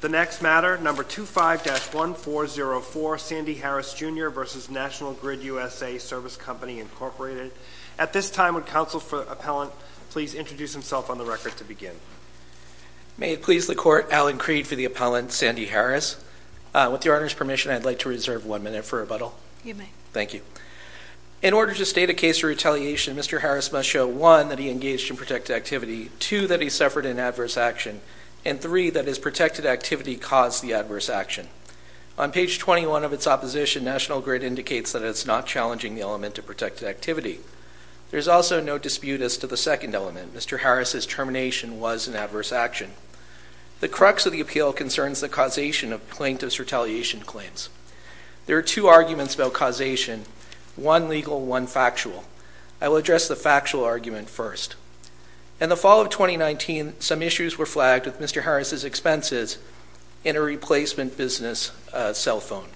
The next matter, No. 25-1404, Sandy Harris, Jr. v. National Grid USA Service Company, Inc. At this time, would counsel for the appellant please introduce himself on the record to begin? May it please the Court, Alan Creed for the appellant, Sandy Harris. With your Honor's permission, I'd like to reserve one minute for rebuttal. You may. Thank you. In order to state a case for retaliation, Mr. Harris must show, one, that he engaged in protected activity, two, that he suffered an adverse action, and three, that his protected activity caused the adverse action. On page 21 of its opposition, National Grid indicates that it's not challenging the element of protected activity. There's also no dispute as to the second element, Mr. Harris's termination was an adverse action. The crux of the appeal concerns the causation of plaintiff's retaliation claims. There are two arguments about causation, one legal, one factual. I will address the factual argument first. In the fall of 2019, some issues were flagged with Mr. Harris's expenses in a replacement business cell phone.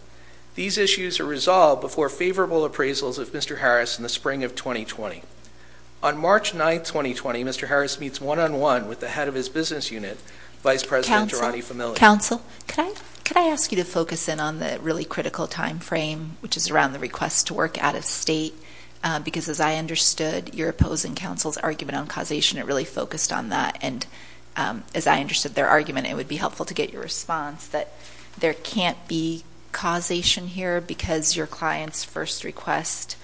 These issues are resolved before favorable appraisals of Mr. Harris in the spring of 2020. On March 9, 2020, Mr. Harris meets one-on-one with the head of his business unit, Vice President Gerardi-Familia. Counsel, could I ask you to focus in on the really critical time frame, which is around the request to work out of state, because as I understood, you're opposing counsel's opinion on causation. It really focused on that. And as I understood their argument, it would be helpful to get your response that there can't be causation here because your client's first request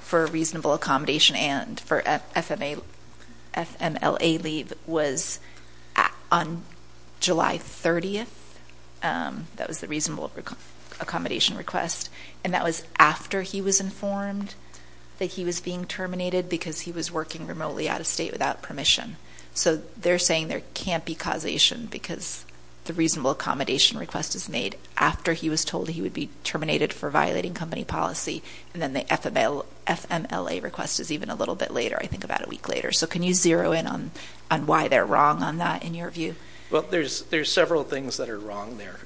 for reasonable accommodation and for FMLA leave was on July 30th, that was the reasonable accommodation request. And that was after he was informed that he was being terminated because he was working remotely out of state without permission. So they're saying there can't be causation because the reasonable accommodation request is made after he was told he would be terminated for violating company policy, and then the FMLA request is even a little bit later, I think about a week later. So can you zero in on why they're wrong on that in your view? Well, there's several things that are wrong there,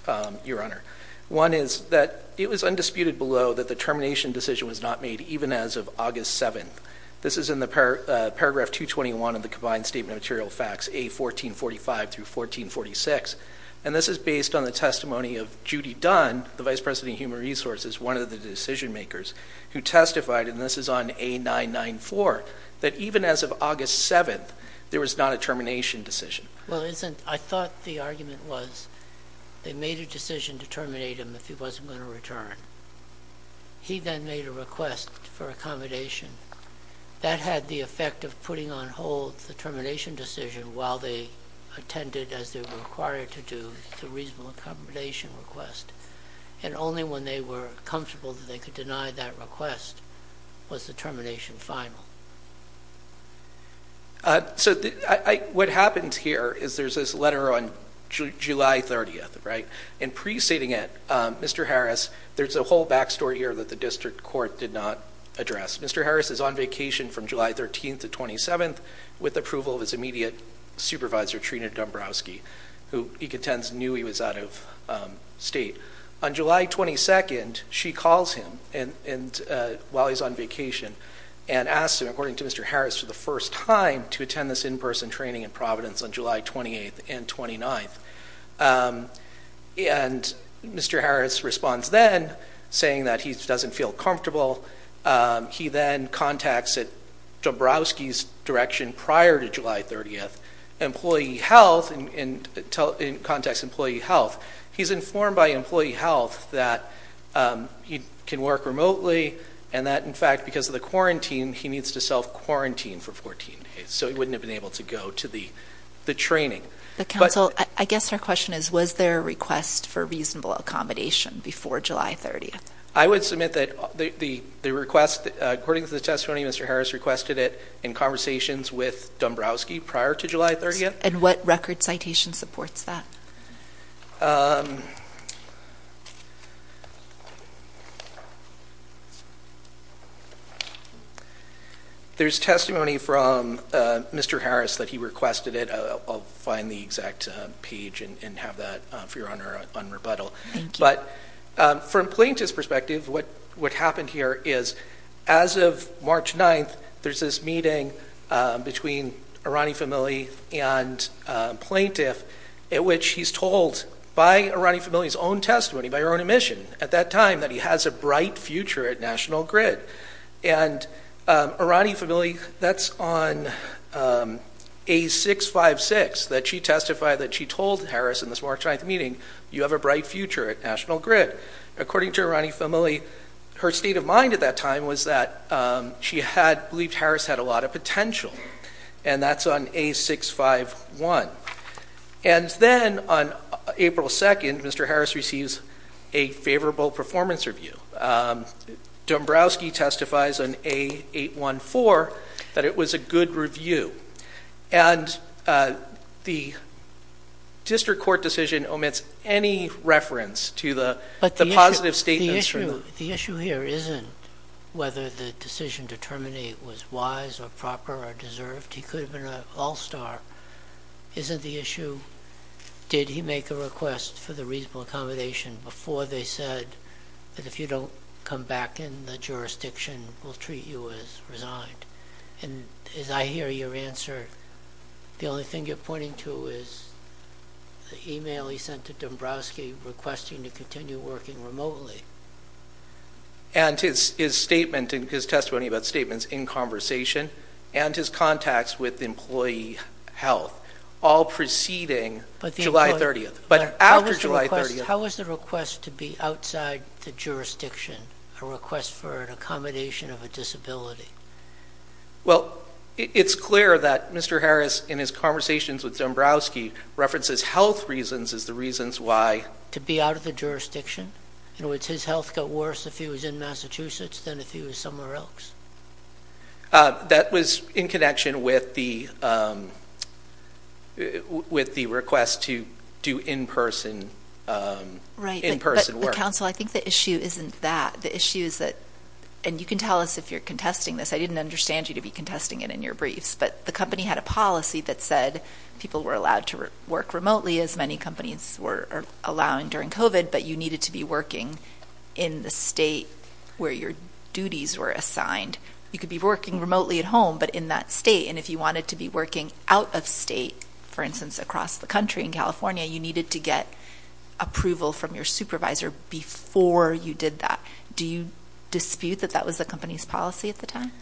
Your Honor. One is that it was undisputed below that the termination decision was not made even as of August 7th. This is in the Paragraph 221 of the Combined Statement of Material Facts, A1445-1446, and this is based on the testimony of Judy Dunn, the Vice President of Human Resources, one of the decision makers, who testified, and this is on A994, that even as of August 7th, there was not a termination decision. Well, isn't... I thought the argument was they made a decision to terminate him if he wasn't going to return. He then made a request for accommodation. That had the effect of putting on hold the termination decision while they attended, as they were required to do, the reasonable accommodation request. And only when they were comfortable that they could deny that request was the termination final. So what happens here is there's this letter on July 30th, right? And pre-stating it, Mr. Harris, there's a whole backstory here that the district court did not address. Mr. Harris is on vacation from July 13th to 27th with approval of his immediate supervisor, Trina Dombrowski, who he contends knew he was out of state. On July 22nd, she calls him while he's on vacation and asks him, according to Mr. Harris, for the first time to attend this in-person training in Providence on July 28th and 29th. And Mr. Harris responds then, saying that he doesn't feel comfortable. He then contacts Dombrowski's direction prior to July 30th, employee health, and contacts employee health. He's informed by employee health that he can work remotely and that, in fact, because of quarantine, he needs to self-quarantine for 14 days. So he wouldn't have been able to go to the training. But, counsel, I guess her question is, was there a request for reasonable accommodation before July 30th? I would submit that the request, according to the testimony, Mr. Harris requested it in conversations with Dombrowski prior to July 30th. And what record citation supports that? There's testimony from Mr. Harris that he requested it. I'll find the exact page and have that, for your honor, on rebuttal. But from plaintiff's perspective, what happened here is, as of March 9th, there's this meeting between Arani Famili and plaintiff, at which he's told by Arani Famili's own testimony, by her own admission at that time, that he has a bright future at National Grid. And Arani Famili, that's on A656, that she testified that she told Harris in this March 9th meeting, you have a bright future at National Grid. According to Arani Famili, her state of mind at that time was that she had believed Harris had a lot of potential. And that's on A651. And then, on April 2nd, Mr. Harris receives a favorable performance review. Dombrowski testifies on A814 that it was a good review. And the district court decision omits any reference to the positive statements. The issue here isn't whether the decision to terminate was wise or proper or deserved. He could have been an all-star. Isn't the issue, did he make a request for the reasonable accommodation before they said that if you don't come back in, the jurisdiction will treat you as resigned? And as I hear your answer, the only thing you're pointing to is the email he sent to Dombrowski requesting to continue working remotely. And his testimony about statements in conversation and his contacts with employee health, all preceding July 30th. But after July 30th. How was the request to be outside the jurisdiction, a request for an accommodation of a disability? Well, it's clear that Mr. Harris, in his conversations with Dombrowski, references health reasons as the reasons why. To be out of the jurisdiction? In other words, his health got worse if he was in Massachusetts than if he was somewhere else. That was in connection with the request to do in-person work. Right, but counsel, I think the issue isn't that. The issue is that, and you can tell us if you're contesting this, I didn't understand you to be contesting it in your briefs, but the company had a policy that said people were allowed to work remotely, as many companies were allowing during COVID, but you needed to be working in the state where your duties were assigned. You could be working remotely at home, but in that state, and if you wanted to be working out of state, for instance, across the country in California, you needed to get approval from your supervisor before you did that. Do you dispute that that was the company's policy at the time?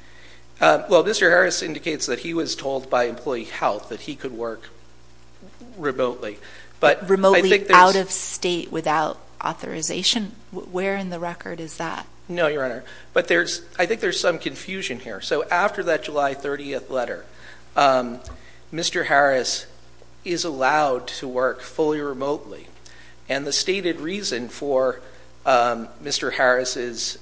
Well, Mr. Harris indicates that he was told by employee health that he could work remotely, but I think there's- Remotely out of state without authorization? Where in the record is that? No, Your Honor, but I think there's some confusion here. So after that July 30th letter, Mr. Harris is allowed to work fully remotely, and the stated reason for Mr. Harris'...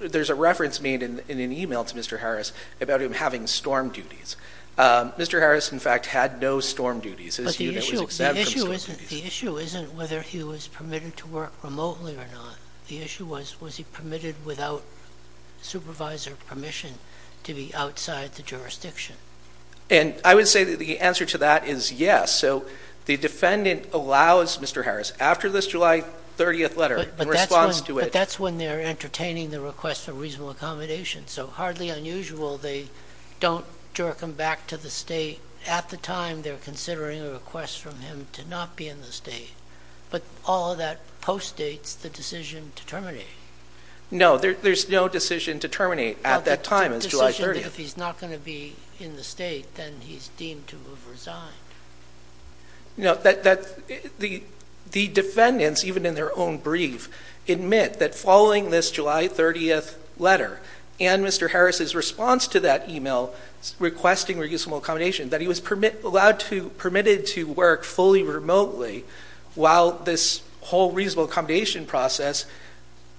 There's a reference made in an email to Mr. Harris about him having storm duties. Mr. Harris, in fact, had no storm duties. His unit was exempt from storm duties. The issue isn't whether he was permitted to work remotely or not. The issue was, was he permitted without supervisor permission to be outside the jurisdiction? And I would say the answer to that is yes. So the defendant allows Mr. Harris, after this July 30th letter, in response to it- But that's when they're entertaining the request for reasonable accommodation. So hardly unusual, they don't jerk him back to the state at the time they're considering a request from him to not be in the state. But all of that postdates the decision to terminate. No, there's no decision to terminate at that time, it's July 30th. If he's not going to be in the state, then he's deemed to have resigned. The defendants, even in their own brief, admit that following this July 30th letter, and Mr. Harris' response to that email requesting reasonable accommodation, that he was permitted to work fully remotely while this whole reasonable accommodation process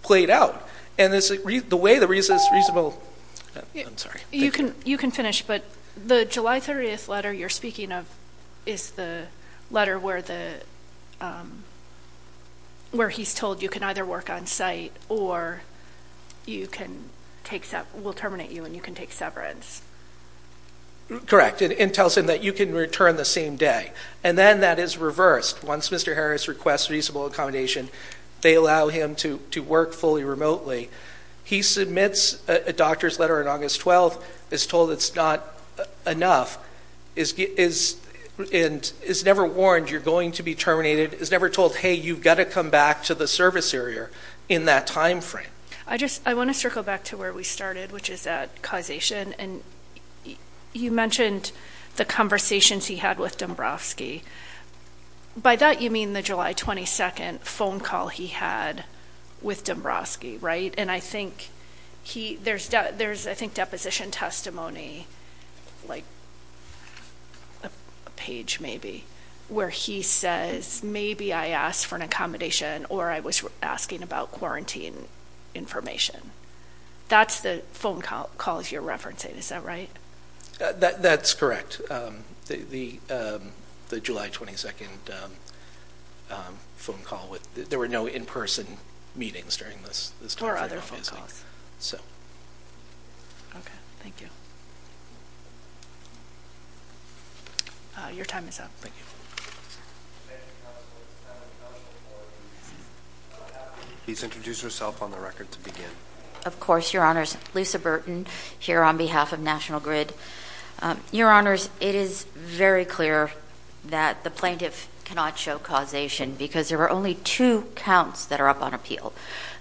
played out. And the way the reasonable- You can finish, but the July 30th letter you're speaking of is the letter where he's told you can either work on site or we'll terminate you and you can take severance. Correct, and tells him that you can return the same day. And then that is reversed. Once Mr. Harris requests reasonable accommodation, they allow him to work fully remotely. He submits a doctor's letter on August 12th, is told it's not enough, and is never warned you're going to be terminated, is never told, hey, you've got to come back to the service area in that time frame. I want to circle back to where we started, which is at causation. And you mentioned the conversations he had with Dombrowski. By that, you mean the July 22nd phone call he had with Dombrowski, right? And I think there's, I think, deposition testimony, like a page maybe, where he says, maybe I asked for an accommodation or I was asking about quarantine information. That's the phone calls you're referencing, is that right? That's correct. The July 22nd phone call. There were no in-person meetings during this time frame, obviously. So. Okay, thank you. Your time is up. Thank you. Thank you, counsel. It's time for the counsel to order. Please introduce yourself on the record to begin. Of course, your honors. Lisa Burton, here on behalf of National Grid. Your honors, it is very clear that the plaintiff cannot show causation, because there are only two counts that are up on appeal.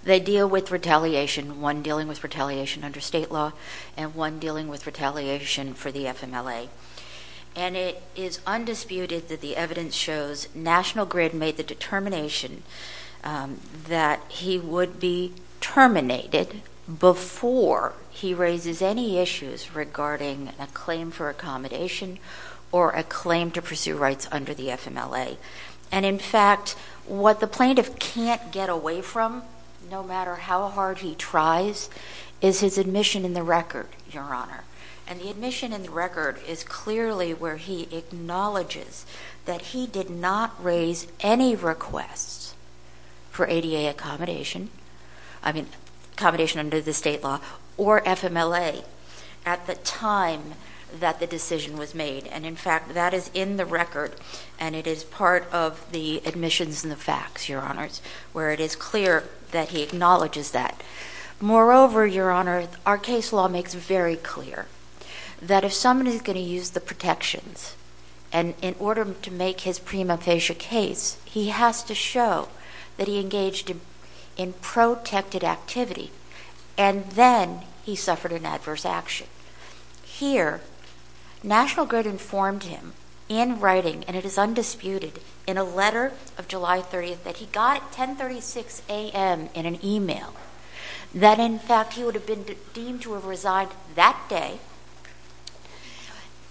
They deal with retaliation, one dealing with retaliation under state law, and one dealing with retaliation for the FMLA. And it is undisputed that the evidence shows National Grid made the determination that he would be terminated before he raises any issues regarding a claim for accommodation or a claim to pursue rights under the FMLA. And in fact, what the plaintiff can't get away from, no matter how hard he tries, is his admission in the record, your honor. And the admission in the record is clearly where he acknowledges that he did not raise any requests for ADA accommodation, I mean, accommodation under the state law, or FMLA at the time that the decision was made. And in fact, that is in the record, and it is part of the admissions and the facts, your honors, where it is clear that he acknowledges that. Moreover, your honor, our case law makes it very clear that if someone is going to use the protections, and in order to make his prima facie case, he has to show that he engaged in protected activity, and then he suffered an adverse action. Here, National Grid informed him in writing, and it is undisputed, in a letter of July 30th, that he got at 10.36 a.m. in an email, that in fact he would have been deemed to have resigned that day,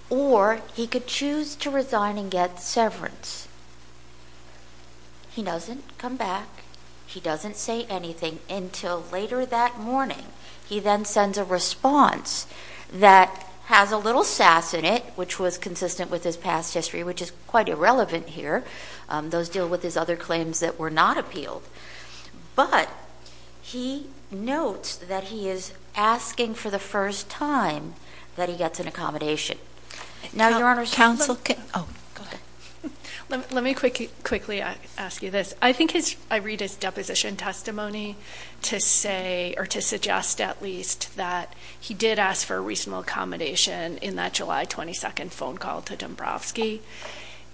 or he could choose to resign and get severance. He doesn't come back. He doesn't say anything until later that morning. He then sends a response that has a little sass in it, which was consistent with his past history, which is quite irrelevant here. Those deal with his other claims that were not appealed. But he notes that he is asking for the first time that he gets an accommodation. Now your honors, counsel can, oh, go ahead. Let me quickly ask you this. I think his, I read his deposition testimony to say, or to suggest at least, that he did ask for a reasonable accommodation in that July 22nd phone call to Dombrowski.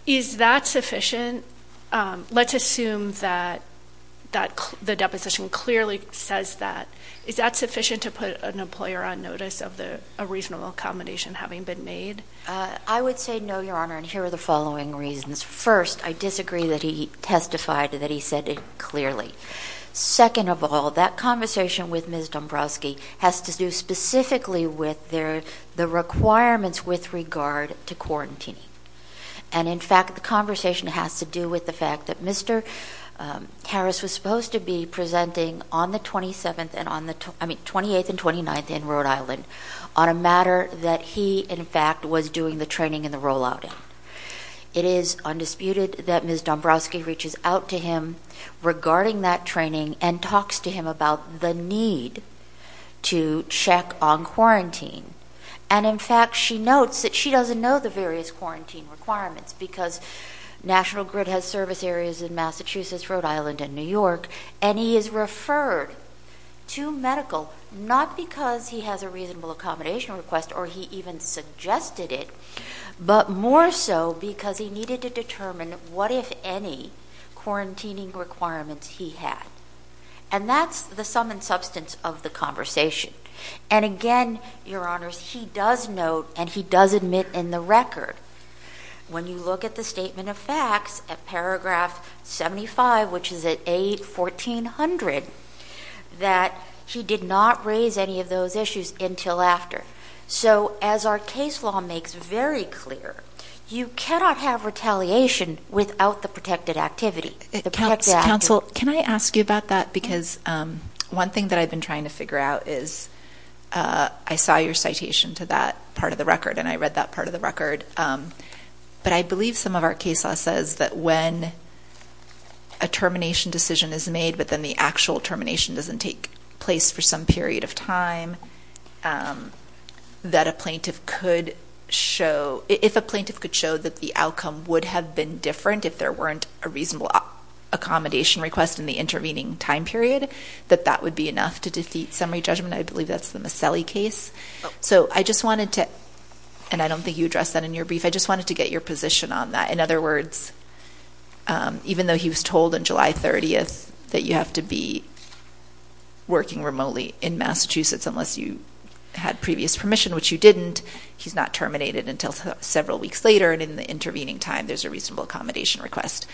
Is that sufficient? Let's assume that the deposition clearly says that. Is that sufficient to put an employer on notice of a reasonable accommodation having been made? I would say no, your honor, and here are the following reasons. First, I disagree that he testified that he said it clearly. Second of all, that conversation with Ms. Dombrowski has to do specifically with the requirements with regard to quarantining. And in fact, the conversation has to do with the fact that Mr. Harris was supposed to be presenting on the 27th and on the, I mean, 28th and 29th in Rhode Island on a matter that he, in fact, was doing the training and the rollout in. It is undisputed that Ms. Dombrowski reaches out to him regarding that training and talks to him about the need to check on quarantine. And in fact, she notes that she doesn't know the various quarantine requirements because National Grid has service areas in Massachusetts, Rhode Island, and New York, and he is referred to medical not because he has a reasonable accommodation request or he even suggested it, but more so because he needed to determine what, if any, quarantining requirements he had. And that's the sum and substance of the conversation. And again, your honors, he does note, and he does admit in the record, when you look at the statement of facts at paragraph 75, which is at A1400, that he did not raise any of those issues until after. So as our case law makes very clear, you cannot have retaliation without the protected activity. Counsel, can I ask you about that? Because one thing that I've been trying to figure out is, I saw your citation to that part of the record and I read that part of the record, but I believe some of our case law says that when a termination decision is made, but then the actual termination doesn't take place for some period of time, that a plaintiff could show, if a plaintiff could show that the outcome would have been different if there weren't a reasonable accommodation request in the intervening time period, that that would be enough to defeat summary judgment. I believe that's the Maselli case. So I just wanted to, and I don't think you addressed that in your brief, I just wanted to get your position on that. In other words, even though he was told on July 30th that you have to be working remotely in Massachusetts unless you had previous permission, which you didn't, he's not terminated until several weeks later and in the intervening time there's a reasonable accommodation request.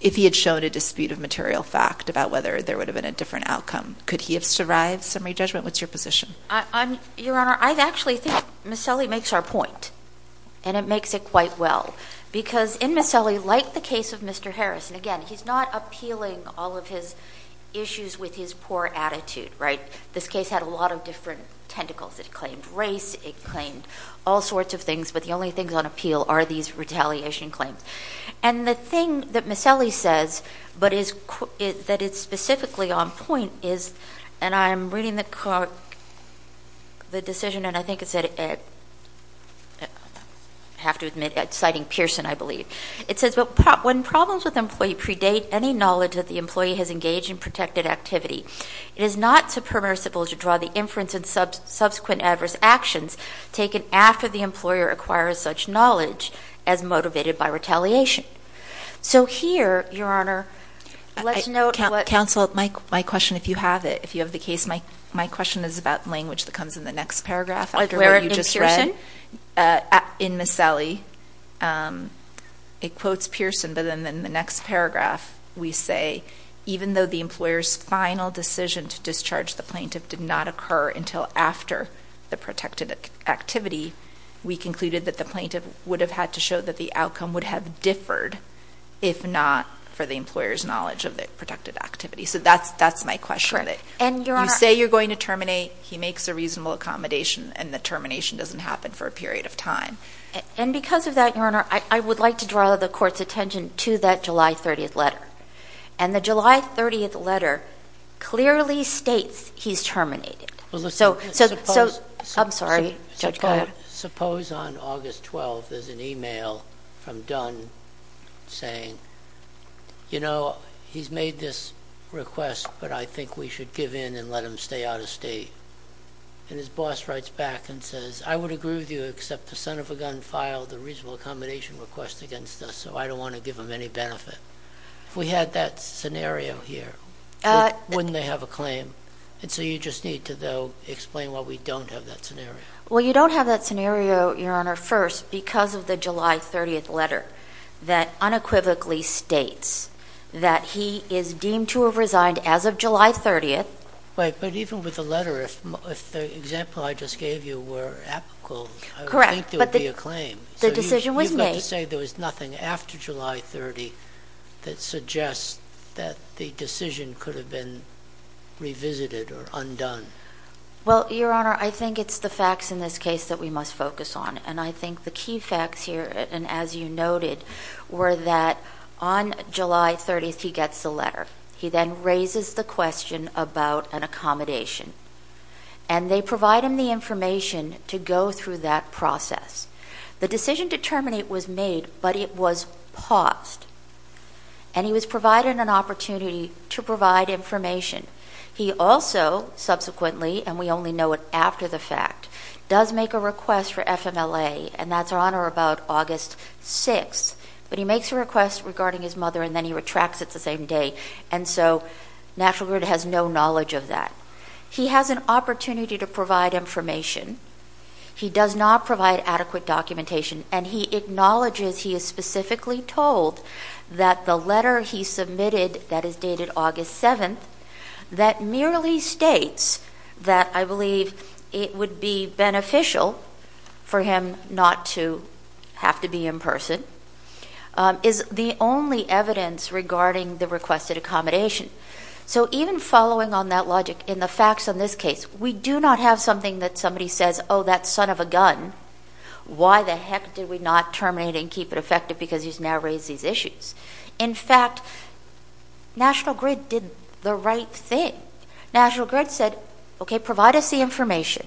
If he had shown a dispute of material fact about whether there would have been a different outcome, could he have survived summary judgment? What's your position? Your Honor, I actually think Maselli makes our point. And it makes it quite well. Because in Maselli, like the case of Mr. Harris, and again, he's not appealing all of his issues with his poor attitude, right? This case had a lot of different tentacles. It claimed race, it claimed all sorts of things, but the only things on appeal are these retaliation claims. And the thing that Maselli says, but that it's specifically on point is, and I'm reading the decision, and I think it said, I have to admit, citing Pearson, I believe. It says, when problems with an employee predate any knowledge that the employee has engaged in protected activity, it is not superlative to draw the inference of subsequent adverse actions taken after the employer acquires such knowledge as motivated by retaliation. So here, Your Honor, let's note what- Counsel, my question, if you have it. If you have the case, my question is about language that comes in the next paragraph. Where, in Pearson? In Maselli, it quotes Pearson, but then in the next paragraph, we say, even though the employer's final decision to discharge the plaintiff did not occur until after the protected activity, we concluded that the plaintiff would have had to show that the outcome would have differed if not for the employer's knowledge of the protected activity. So that's my question. You say you're going to terminate, he makes a reasonable accommodation, and the termination doesn't happen for a period of time. And because of that, Your Honor, I would like to draw the Court's attention to that July 30th letter. And the July 30th letter clearly states he's terminated. So I'm sorry, Judge, go ahead. Suppose on August 12th, there's an email from Dunn saying, you know, he's made this request, but I think we should give in and let him stay out of state. And his boss writes back and says, I would agree with you, except the son of a gun filed a reasonable accommodation request against us, so I don't want to give him any benefit. If we had that scenario here, wouldn't they have a claim? And so you just need to, though, explain why we don't have that scenario. Well, you don't have that scenario, Your Honor, first, because of the July 30th letter that unequivocally states that he is deemed to have resigned as of July 30th. Right, but even with the letter, if the example I just gave you were apical, I would think there would be a claim. But the decision was made. So you've got to say there was nothing after July 30th that suggests that the decision could have been revisited or undone. Well, Your Honor, I think it's the facts in this case that we must focus on. And I think the key facts here, and as you noted, were that on July 30th, he gets the He then raises the question about an accommodation. And they provide him the information to go through that process. The decision to terminate was made, but it was paused. And he was provided an opportunity to provide information. He also, subsequently, and we only know it after the fact, does make a request for FMLA. And that's, Your Honor, about August 6th. But he makes a request regarding his mother, and then he retracts it the same day. And so, Natural Grid has no knowledge of that. He has an opportunity to provide information. He does not provide adequate documentation. And he acknowledges he is specifically told that the letter he submitted that is dated August 7th, that merely states that I believe it would be beneficial for him not to have to be in person, is the only evidence regarding the requested accommodation. So even following on that logic, in the facts on this case, we do not have something that somebody says, oh, that son of a gun. Why the heck did we not terminate and keep it effective? Because he's now raised these issues. In fact, National Grid did the right thing. National Grid said, okay, provide us the information.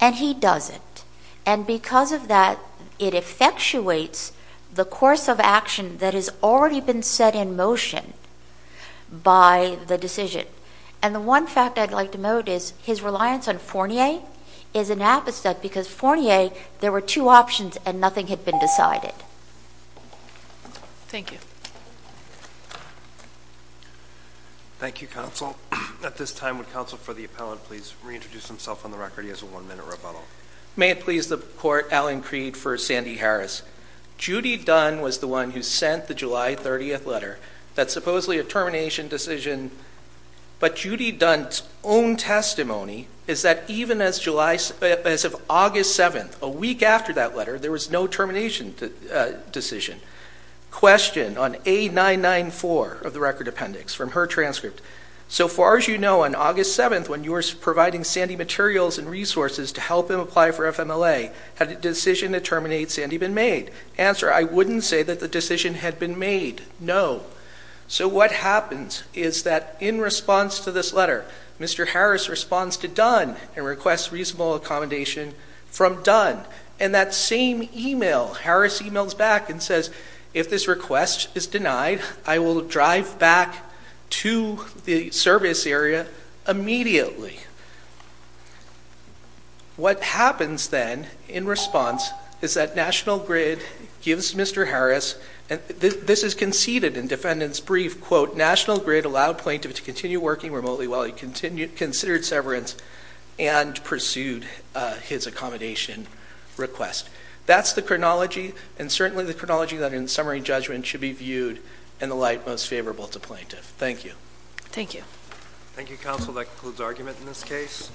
And he does it. And because of that, it effectuates the course of action that has already been set in motion by the decision. And the one fact I'd like to note is his reliance on Fournier is an apposite, because Fournier, there were two options and nothing had been decided. Thank you. Thank you, counsel. At this time, would counsel for the appellant please reintroduce himself on the record? He has a one minute rebuttal. May it please the court, Alan Creed for Sandy Harris. Judy Dunn was the one who sent the July 30th letter. That's supposedly a termination decision. But Judy Dunn's own testimony is that even as of August 7th, a week after that letter, there was no termination decision. Question on A994 of the record appendix from her transcript. So far as you know, on August 7th, when you were providing Sandy materials and resources to help him apply for FMLA, had a decision to terminate Sandy been made? Answer, I wouldn't say that the decision had been made, no. So what happens is that in response to this letter, Mr. Harris responds to Dunn and requests reasonable accommodation from Dunn. And that same email, Harris emails back and says, if this request is denied, I will drive back to the service area immediately. What happens then in response is that National Grid gives Mr. Harris, and this is conceded in defendant's brief, quote, National Grid allowed plaintiff to continue working remotely while he considered severance and pursued his accommodation request. That's the chronology, and certainly the chronology that in summary judgment should be viewed in the light most favorable to plaintiff. Thank you. Thank you. Thank you counsel, that concludes argument in this case.